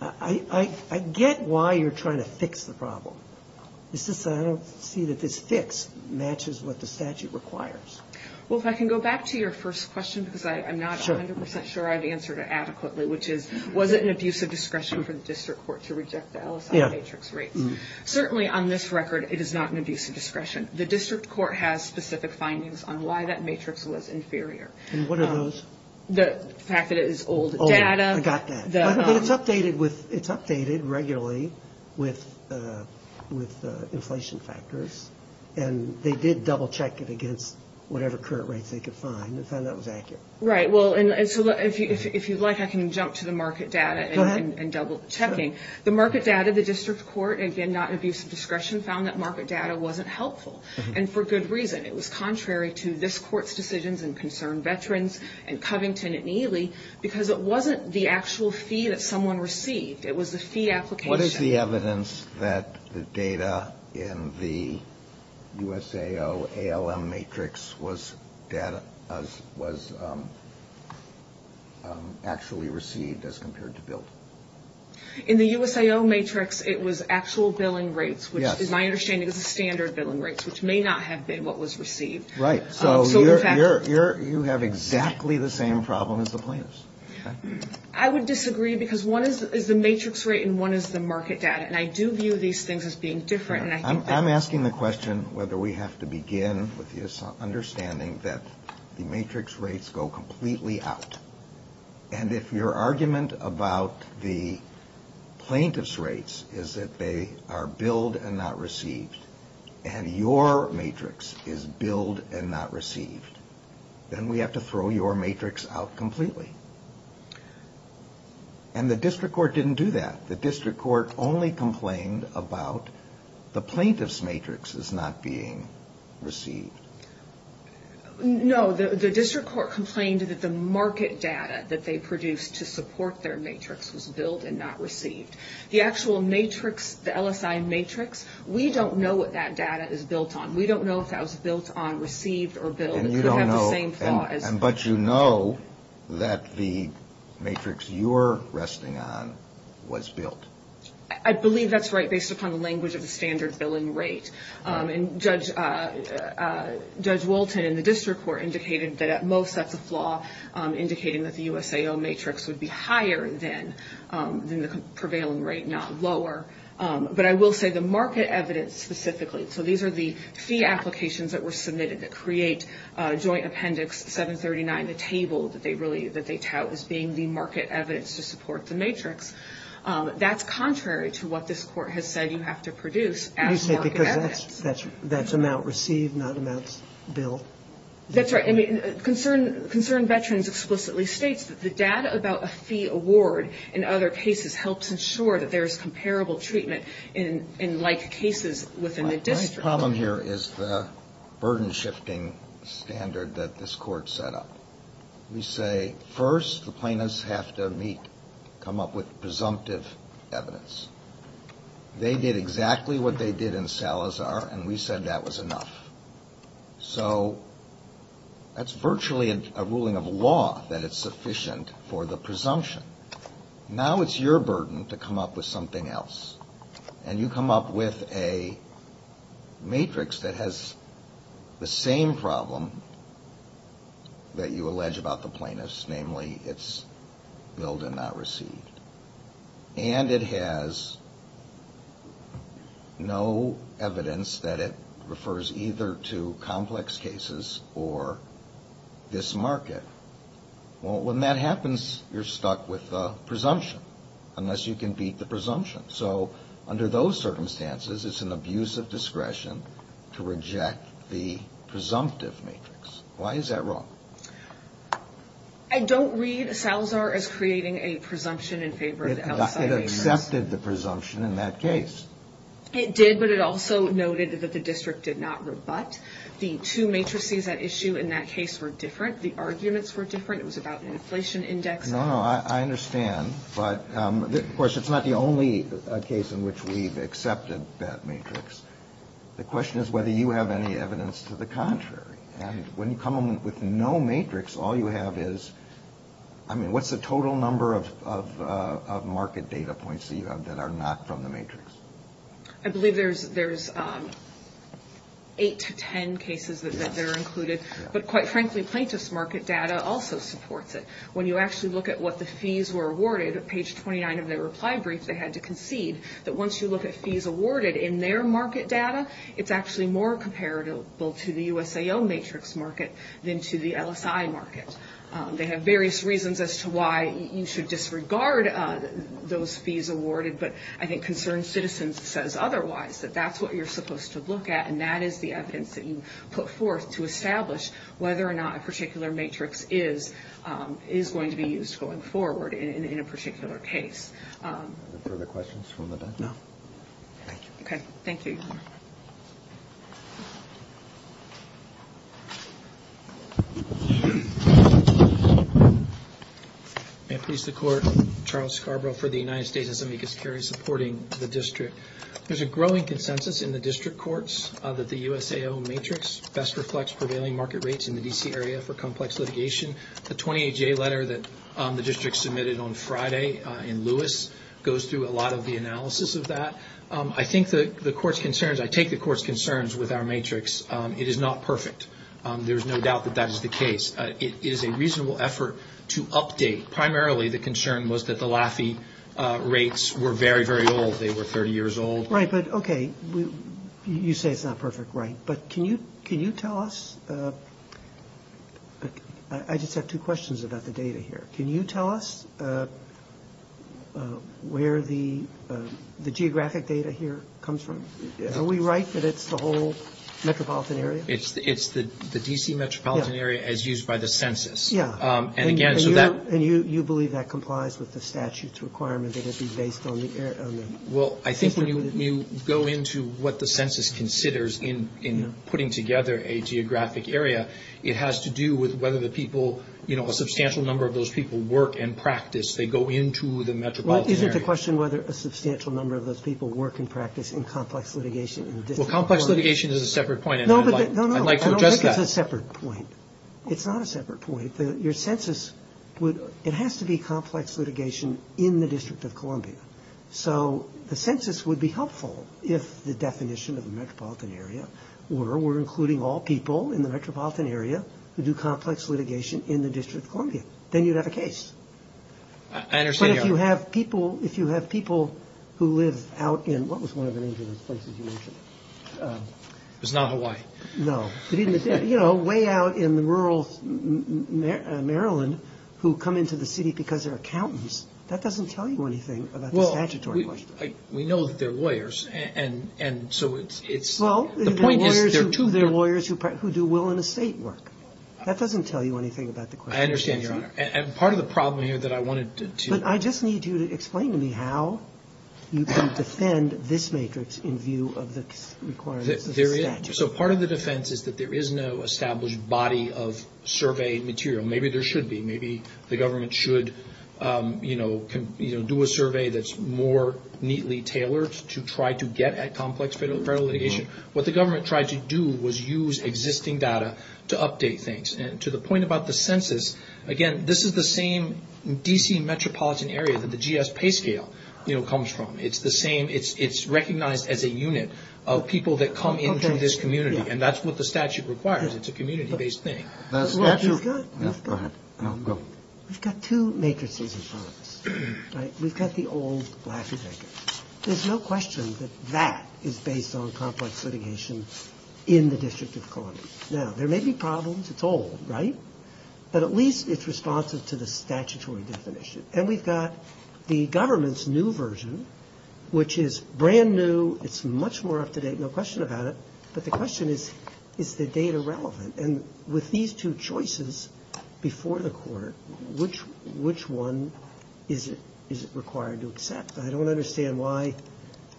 I get why you're trying to fix the problem. It's just that I don't see that this fix matches what the statute requires. Well, if I can go back to your first question, because I'm not 100 percent sure I've answered it adequately, which is, was it an abusive discretion for the district court to reject the LSI matrix rates? Certainly on this record, it is not an abusive discretion. The district court has specific findings on why that matrix was inferior. And what are those? The fact that it is old data. I got that. But it's updated regularly with inflation factors, and they did double-check it against whatever current rates they could find and found that was accurate. Right, well, and so if you'd like, I can jump to the market data and double-checking. The market data, the district court, again, not an abusive discretion, found that market data wasn't helpful, and for good reason. It was contrary to this court's decisions and concerned veterans and Covington and Ely, because it wasn't the actual fee that someone received. It was the fee application. What is the evidence that the data in the USAO ALM matrix was actually received as compared to billed? In the USAO matrix, it was actual billing rates, which is my understanding is the standard billing rates, which may not have been what was received. Right, so you have exactly the same problem as the plaintiffs. I would disagree, because one is the matrix rate and one is the market data, and I do view these things as being different. I'm asking the question whether we have to begin with this understanding that the matrix rates go completely out. And if your argument about the plaintiffs' rates is that they are billed and not received, and your matrix is billed and not received, then we have to throw your matrix out completely. And the district court didn't do that. The district court only complained about the plaintiffs' matrix as not being received. No, the district court complained that the market data that they produced to support their matrix was billed and not received. The actual matrix, the LSI matrix, we don't know what that data is built on. We don't know if that was built on received or billed. And you don't know, but you know that the matrix you're resting on was billed. I believe that's right, based upon the language of the standard billing rate. And Judge Walton in the district court indicated that at most that's a flaw, indicating that the USAO matrix would be higher than the prevailing rate, not lower. But I will say the market evidence specifically, so these are the fee applications that were submitted that create Joint Appendix 739, the table that they tout as being the market evidence to support the matrix, that's contrary to what this court has said you have to produce as market evidence. You say because that's amount received, not amount billed. That's right. Concerned Veterans explicitly states that the data about a fee award in other cases helps ensure that there is comparable treatment in like cases within the district. My problem here is the burden shifting standard that this court set up. We say first the plaintiffs have to meet, come up with presumptive evidence. They did exactly what they did in Salazar, and we said that was enough. So that's virtually a ruling of law that it's sufficient for the presumption. Now it's your burden to come up with something else, and you come up with a matrix that has the same problem that you allege about the plaintiffs, namely it's billed and not received. And it has no evidence that it refers either to complex cases or this market. Well, when that happens, you're stuck with the presumption unless you can beat the presumption. So under those circumstances, it's an abuse of discretion to reject the presumptive matrix. Why is that wrong? I don't read Salazar as creating a presumption in favor of the outside agency. It accepted the presumption in that case. It did, but it also noted that the district did not rebut. The two matrices at issue in that case were different. The arguments were different. It was about an inflation index. No, no, I understand. But, of course, it's not the only case in which we've accepted that matrix. The question is whether you have any evidence to the contrary. And when you come up with no matrix, all you have is, I mean, what's the total number of market data points that you have that are not from the matrix? I believe there's 8 to 10 cases that are included. But, quite frankly, plaintiff's market data also supports it. When you actually look at what the fees were awarded, at page 29 of their reply brief, they had to concede that once you look at fees awarded in their market data, it's actually more comparable to the USAO matrix market than to the LSI market. They have various reasons as to why you should disregard those fees awarded, but I think Concerned Citizens says otherwise, that that's what you're supposed to look at, and that is the evidence that you put forth to establish whether or not a particular matrix is going to be used going forward in a particular case. Are there further questions from the bench? No. Thank you. Thank you. May it please the Court. Charles Scarborough for the United States and Zambia Security, supporting the district. There's a growing consensus in the district courts that the USAO matrix best reflects prevailing market rates in the D.C. area for complex litigation. The 28-J letter that the district submitted on Friday in Lewis goes through a lot of the analysis of that. I think the Court's concerns, I take the Court's concerns with our matrix. It is not perfect. There is no doubt that that is the case. It is a reasonable effort to update. Primarily the concern was that the Laffey rates were very, very old. They were 30 years old. Right, but okay, you say it's not perfect. Right, but can you tell us, I just have two questions about the data here. Can you tell us where the geographic data here comes from? Are we right that it's the whole metropolitan area? It's the D.C. metropolitan area as used by the census. Yeah. And again, so that. And you believe that complies with the statute's requirement that it be based on the. Well, I think when you go into what the census considers in putting together a geographic area, it has to do with whether the people, you know, a substantial number of those people work in practice. They go into the metropolitan area. Well, isn't the question whether a substantial number of those people work in practice in complex litigation? Well, complex litigation is a separate point. No, no, no. I'd like to address that. I don't think it's a separate point. It's not a separate point. Your census would, it has to be complex litigation in the District of Columbia. So the census would be helpful if the definition of the metropolitan area were we're including all people in the metropolitan area who do complex litigation in the District of Columbia. Then you'd have a case. I understand. But if you have people, if you have people who live out in, what was one of the names of those places you mentioned? It was not Hawaii. No. You know, way out in the rural Maryland who come into the city because they're accountants. That doesn't tell you anything about the statutory question. We know that they're lawyers and so it's. Well, they're lawyers who do will and estate work. That doesn't tell you anything about the question. I understand, Your Honor. And part of the problem here that I wanted to. But I just need you to explain to me how you can defend this matrix in view of the requirements of the statute. So part of the defense is that there is no established body of survey material. Maybe there should be. Maybe the government should do a survey that's more neatly tailored to try to get at complex federal litigation. What the government tried to do was use existing data to update things. And to the point about the census, again, this is the same D.C. metropolitan area that the GS pay scale comes from. It's the same. It's recognized as a unit of people that come into this community. And that's what the statute requires. It's a community-based thing. Go ahead. We've got two matrices. We've got the old. There's no question that that is based on complex litigation in the District of Columbia. Now, there may be problems. It's all right. But at least it's responsive to the statutory definition. And we've got the government's new version, which is brand new. It's much more up to date. No question about it. But the question is, is the data relevant? And with these two choices before the court, which one is it required to accept? I don't understand why.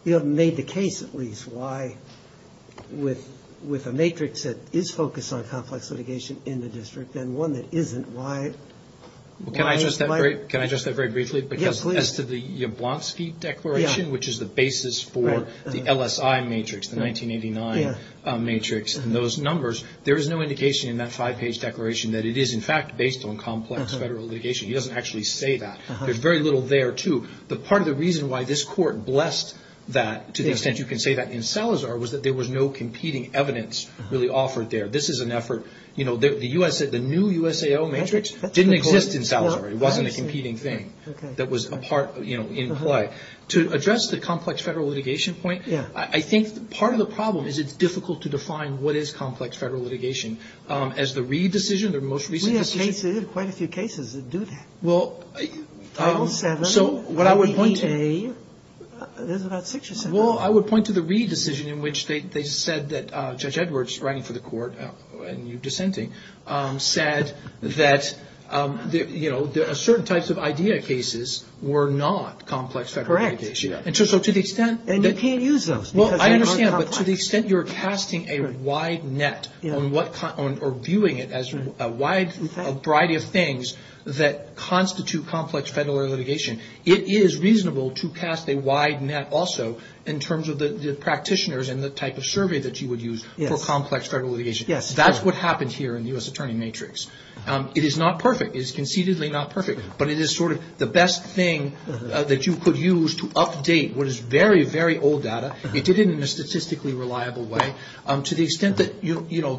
You haven't made the case, at least, why with a matrix that is focused on complex litigation in the district and one that isn't, why is it not? Can I address that very briefly? Yes, please. Because as to the Jablonski Declaration, which is the basis for the LSI matrix, the 1989 matrix, and those numbers, there is no indication in that five-page declaration that it is, in fact, based on complex federal litigation. It doesn't actually say that. There's very little there, too. But part of the reason why this court blessed that to the extent you can say that in Salazar was that there was no competing evidence really offered there. This is an effort, you know, the new USAO matrix didn't exist in Salazar. It wasn't a competing thing that was a part, you know, in play. To address the complex federal litigation point, I think part of the problem is it's difficult to define what is complex federal litigation. As the Reid decision, the most recent decision. We have quite a few cases that do that. Title VII, 88, there's about six or seven. Well, I would point to the Reid decision in which they said that Judge Edwards, writing for the court and you dissenting, said that, you know, Correct. And you can't use those. Well, I understand. But to the extent you're casting a wide net or viewing it as a wide variety of things that constitute complex federal litigation, it is reasonable to cast a wide net also in terms of the practitioners and the type of survey that you would use for complex federal litigation. That's what happened here in the U.S. attorney matrix. It is not perfect. It is concededly not perfect. But it is sort of the best thing that you could use to update what is very, very old data. You did it in a statistically reliable way. To the extent that, you know,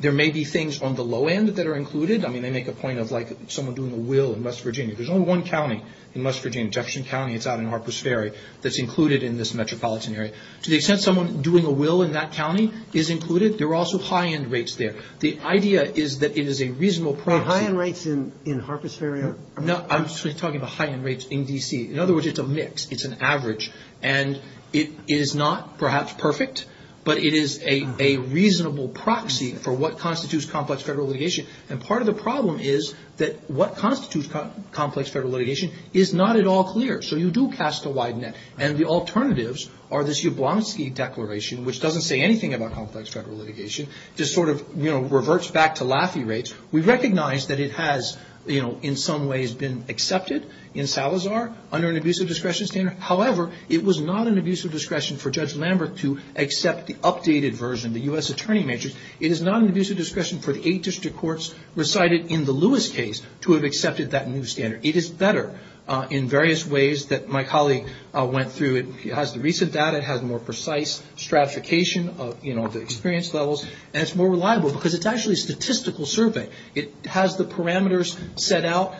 there may be things on the low end that are included. I mean, they make a point of like someone doing a will in West Virginia. There's only one county in West Virginia, Jefferson County. It's out in Harpers Ferry that's included in this metropolitan area. To the extent someone doing a will in that county is included, there are also high end rates there. The idea is that it is a reasonable proxy. High end rates in Harpers Ferry? No, I'm talking about high end rates in D.C. In other words, it's a mix. It's an average. And it is not, perhaps, perfect. But it is a reasonable proxy for what constitutes complex federal litigation. And part of the problem is that what constitutes complex federal litigation is not at all clear. So you do cast a wide net. And the alternatives are this Ublonski Declaration, which doesn't say anything about complex federal litigation. Just sort of, you know, reverts back to Laffey rates. We recognize that it has, you know, in some ways been accepted in Salazar under an abusive discretion standard. However, it was not an abusive discretion for Judge Lambert to accept the updated version, the U.S. attorney matrix. It is not an abusive discretion for the eight district courts recited in the Lewis case to have accepted that new standard. It is better in various ways that my colleague went through. It has the recent data. It has more precise stratification of, you know, the experience levels. And it's more reliable because it's actually a statistical survey. It has the parameters set out.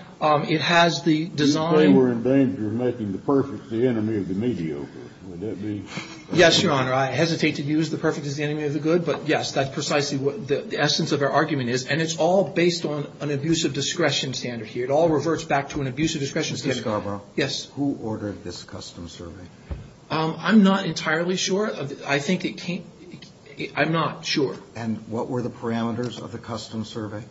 It has the design. You say we're in danger of making the perfect the enemy of the mediocre. Would that be? Yes, Your Honor. I hesitate to use the perfect as the enemy of the good. But, yes, that's precisely what the essence of our argument is. And it's all based on an abusive discretion standard here. It all reverts back to an abusive discretion standard. Mr. Scarborough. Who ordered this custom survey? I'm not entirely sure. I think it came. I'm not sure. And what were the parameters of the custom survey?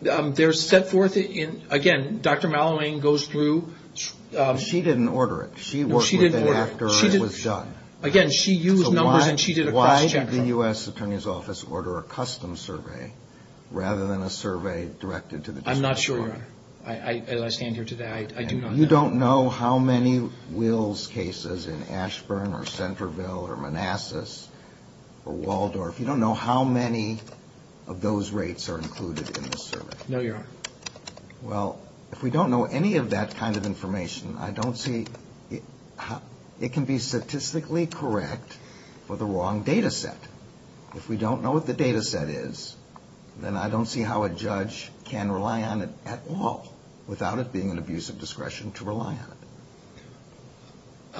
They're set forth in, again, Dr. Mallowane goes through. She didn't order it. No, she didn't order it. She worked with it after it was done. Again, she used numbers and she did a cross-check. So why did the U.S. attorney's office order a custom survey rather than a survey directed to the district court? I'm not sure, Your Honor. As I stand here today, I do not know. You don't know how many Wills cases in Ashburn or Centerville or Manassas or Waldorf. You don't know how many of those rates are included in this survey. No, Your Honor. Well, if we don't know any of that kind of information, I don't see it can be statistically correct for the wrong data set. If we don't know what the data set is, then I don't see how a judge can rely on it at all, without it being an abuse of discretion to rely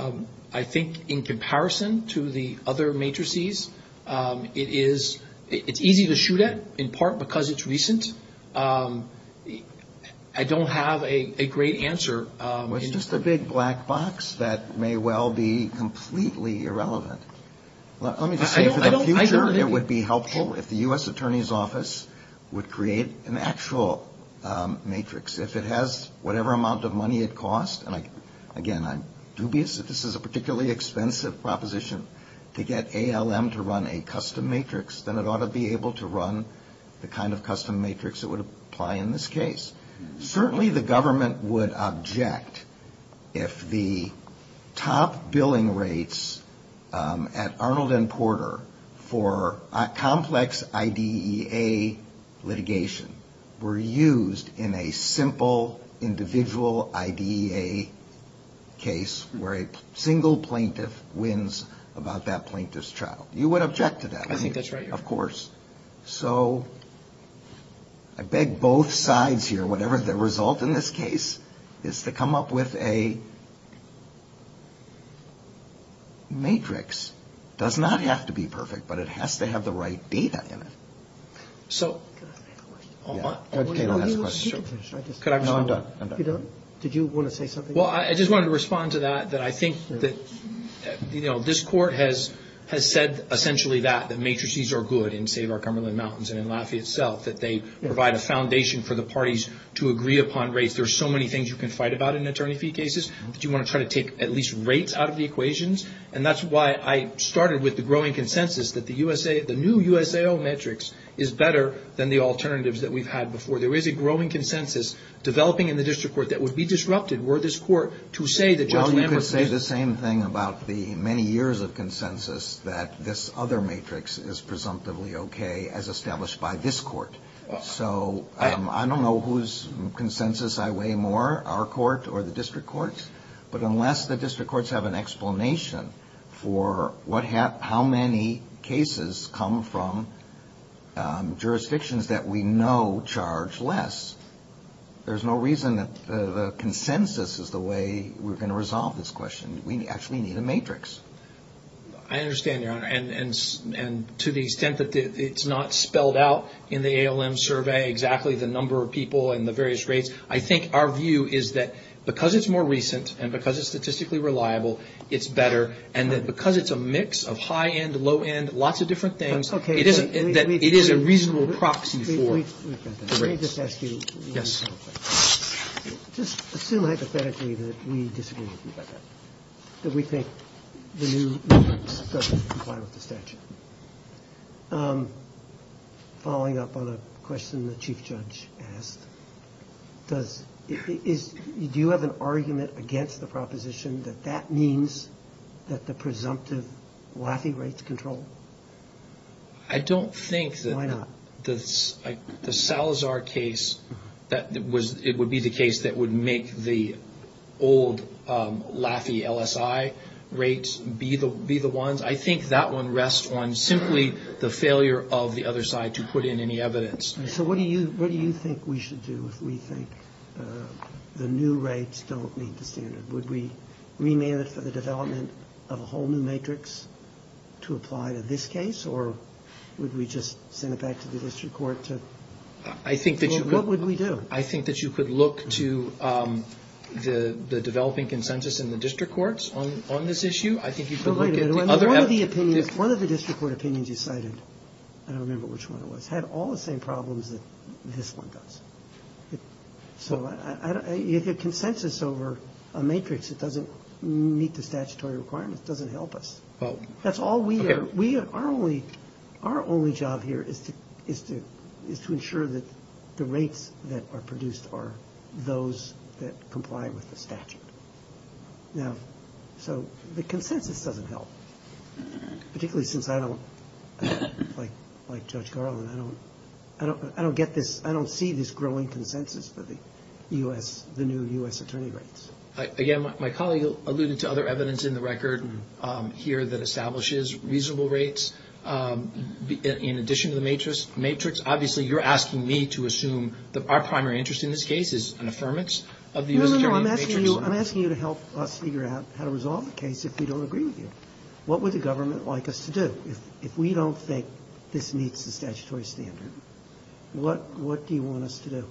on it. I think in comparison to the other matrices, it's easy to shoot at, in part because it's recent. I don't have a great answer. Well, it's just a big black box that may well be completely irrelevant. Let me just say for the future, it would be helpful if the U.S. attorney's office would create an actual matrix. If it has whatever amount of money it costs, and again, I'm dubious that this is a particularly expensive proposition, to get ALM to run a custom matrix, then it ought to be able to run the kind of custom matrix that would apply in this case. Certainly the government would object if the top billing rates at Arnold and Porter for complex IDEA litigation were used in a simple, individual IDEA case where a single plaintiff wins about that plaintiff's trial. You would object to that, wouldn't you? Of course. So I beg both sides here, whatever the result in this case is to come up with a matrix. It does not have to be perfect, but it has to have the right data in it. Could I ask a question? Sure. No, I'm done. You're done? Did you want to say something? Well, I just wanted to respond to that, that I think that this court has said essentially that, that matrices are good in Save Our Cumberland Mountains and in Lafayette itself, that they provide a foundation for the parties to agree upon rates. There are so many things you can fight about in attorney fee cases, but you want to try to take at least rates out of the equations, and that's why I started with the growing consensus that the new USAO matrix is better than the alternatives that we've had before. There is a growing consensus developing in the district court that would be disrupted were this court to say that Judge Lambert said- Well, you could say the same thing about the many years of consensus, that this other matrix is presumptively okay as established by this court. So I don't know whose consensus I weigh more, our court or the district courts, but unless the district courts have an explanation for how many cases come from jurisdictions that we know charge less, there's no reason that the consensus is the way we're going to resolve this question. We actually need a matrix. I understand, Your Honor, and to the extent that it's not spelled out in the ALM survey exactly the number of people and the various rates, I think our view is that because it's more recent and because it's statistically reliable, it's better, and that because it's a mix of high-end, low-end, lots of different things, it is a reasonable proxy for the rates. Let me just ask you, just assume hypothetically that we disagree with you about that, that we think the new matrix doesn't comply with the statute. Following up on a question the Chief Judge asked, do you have an argument against the proposition that that means that the presumptive LAFI rates control? I don't think that. Why not? The Salazar case, it would be the case that would make the old LAFI LSI rates be the ones. I think that one rests on simply the failure of the other side to put in any evidence. So what do you think we should do if we think the new rates don't meet the standard? Would we remand it for the development of a whole new matrix to apply to this case, or would we just send it back to the district court? What would we do? I think that you could look to the developing consensus in the district courts on this issue. One of the district court opinions you cited, I don't remember which one it was, had all the same problems that this one does. So if you have consensus over a matrix that doesn't meet the statutory requirements, it doesn't help us. That's all we are. Our only job here is to ensure that the rates that are produced are those that comply with the statute. So the consensus doesn't help, particularly since I don't, like Judge Garland, I don't see this growing consensus for the new U.S. attorney rates. Again, my colleague alluded to other evidence in the record here that establishes reasonable rates in addition to the matrix. Obviously, you're asking me to assume that our primary interest in this case is an affirmance of the U.S. attorney matrix. No, no, no. I'm asking you to help us figure out how to resolve the case if we don't agree with you. What would the government like us to do? If we don't think this meets the statutory standard, what do you want us to do?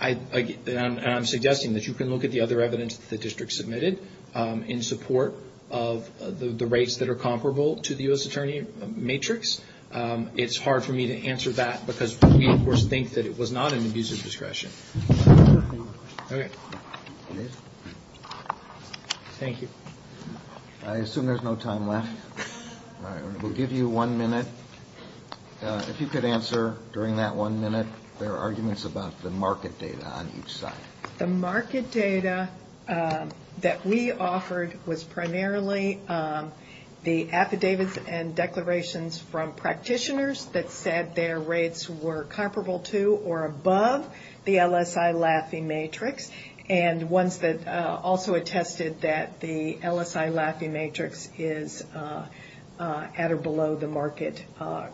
I'm suggesting that you can look at the other evidence that the district submitted in support of the rates that are comparable to the U.S. attorney matrix. It's hard for me to answer that because we, of course, think that it was not an abuse of discretion. Okay. Thank you. I assume there's no time left. We'll give you one minute. If you could answer during that one minute, there are arguments about the market data on each side. The market data that we offered was primarily the affidavits and declarations from practitioners that said their rates were comparable to or above the LSI Laffey matrix and ones that also attested that the LSI Laffey matrix is at or below the market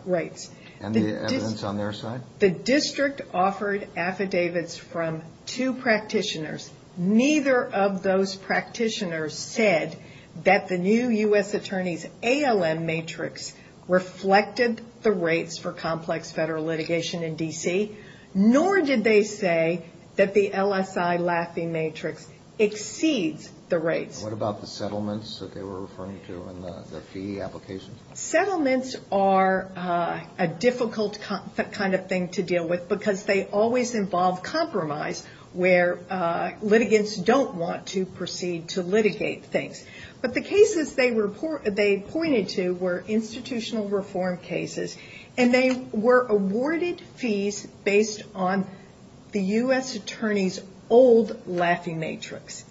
rates. And the evidence on their side? The district offered affidavits from two practitioners. Neither of those practitioners said that the new U.S. attorney's ALM matrix reflected the rates for complex federal litigation in D.C., nor did they say that the LSI Laffey matrix exceeds the rates. What about the settlements that they were referring to in the fee application? Settlements are a difficult kind of thing to deal with because they always involve compromise where litigants don't want to proceed to litigate things. But the cases they pointed to were institutional reform cases, and they were awarded fees based on the U.S. attorney's old Laffey matrix.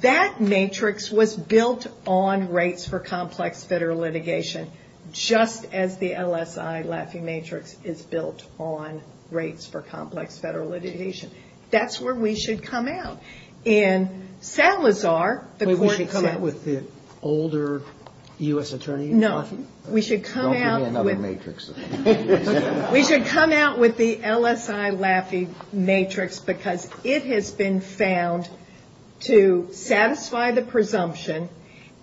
That matrix was built on rates for complex federal litigation, just as the LSI Laffey matrix is built on rates for complex federal litigation. That's where we should come out. In Salazar, the court said... Wait, we should sit with the older U.S. attorney? No. Don't give me another matrix. We should come out with the LSI Laffey matrix because it has been found to satisfy the presumption,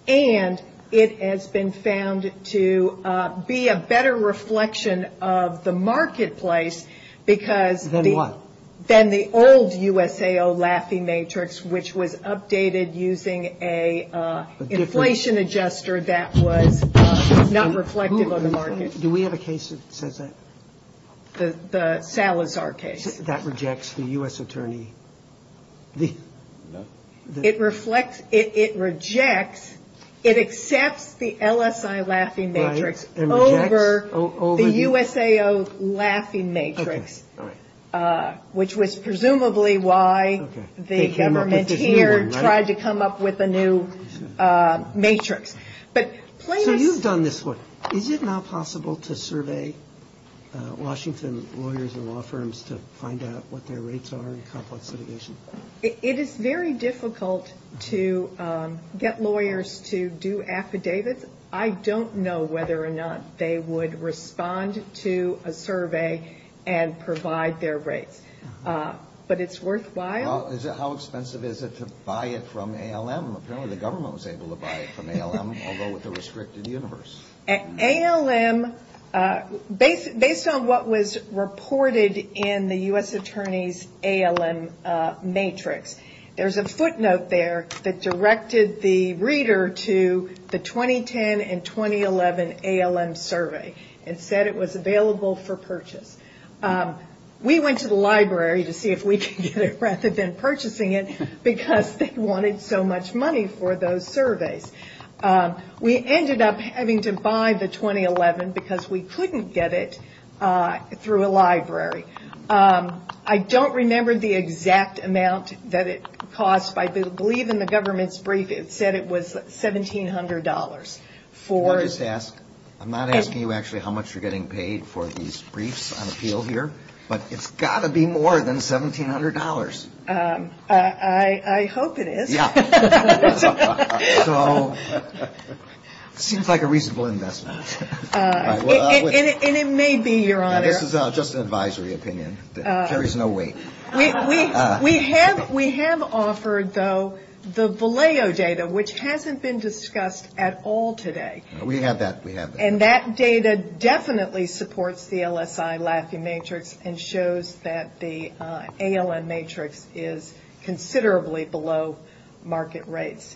and it has been found to be a better reflection of the marketplace because... Then what? Then the old USAO Laffey matrix, which was updated using an inflation adjuster that was not reflective of the market. Do we have a case that says that? The Salazar case. That rejects the U.S. attorney? No. It reflects, it rejects, it accepts the LSI Laffey matrix over the USAO Laffey matrix, which was presumably why the government here tried to come up with a new matrix. So you've done this work. Is it now possible to survey Washington lawyers and law firms to find out what their rates are in complex litigation? It is very difficult to get lawyers to do affidavits. I don't know whether or not they would respond to a survey and provide their rates, but it's worthwhile. How expensive is it to buy it from ALM? Apparently the government was able to buy it from ALM, although with a restricted universe. ALM, based on what was reported in the U.S. attorney's ALM matrix, there's a footnote there that directed the reader to the 2010 and 2011 ALM survey and said it was available for purchase. We went to the library to see if we could get it rather than purchasing it because they wanted so much money for those surveys. We ended up having to buy the 2011 because we couldn't get it through a library. I don't remember the exact amount that it cost, but I believe in the government's brief it said it was $1,700. Can I just ask, I'm not asking you actually how much you're getting paid for these briefs on appeal here, but it's got to be more than $1,700. I hope it is. So it seems like a reasonable investment. And it may be, Your Honor. This is just an advisory opinion. There is no way. We have offered, though, the Valeo data, which hasn't been discussed at all today. We have that. And that data definitely supports the LSI LATHE matrix and shows that the ALM matrix is considerably below market rates.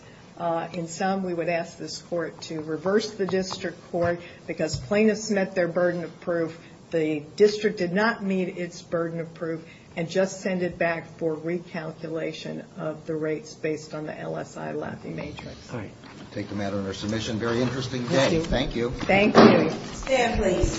In sum, we would ask this Court to reverse the district court because plaintiffs met their burden of proof. The district did not meet its burden of proof and just send it back for recalculation of the rates based on the LSI LATHE matrix. All right. I take the matter under submission. Very interesting day. Thank you. Thank you. Stand, please.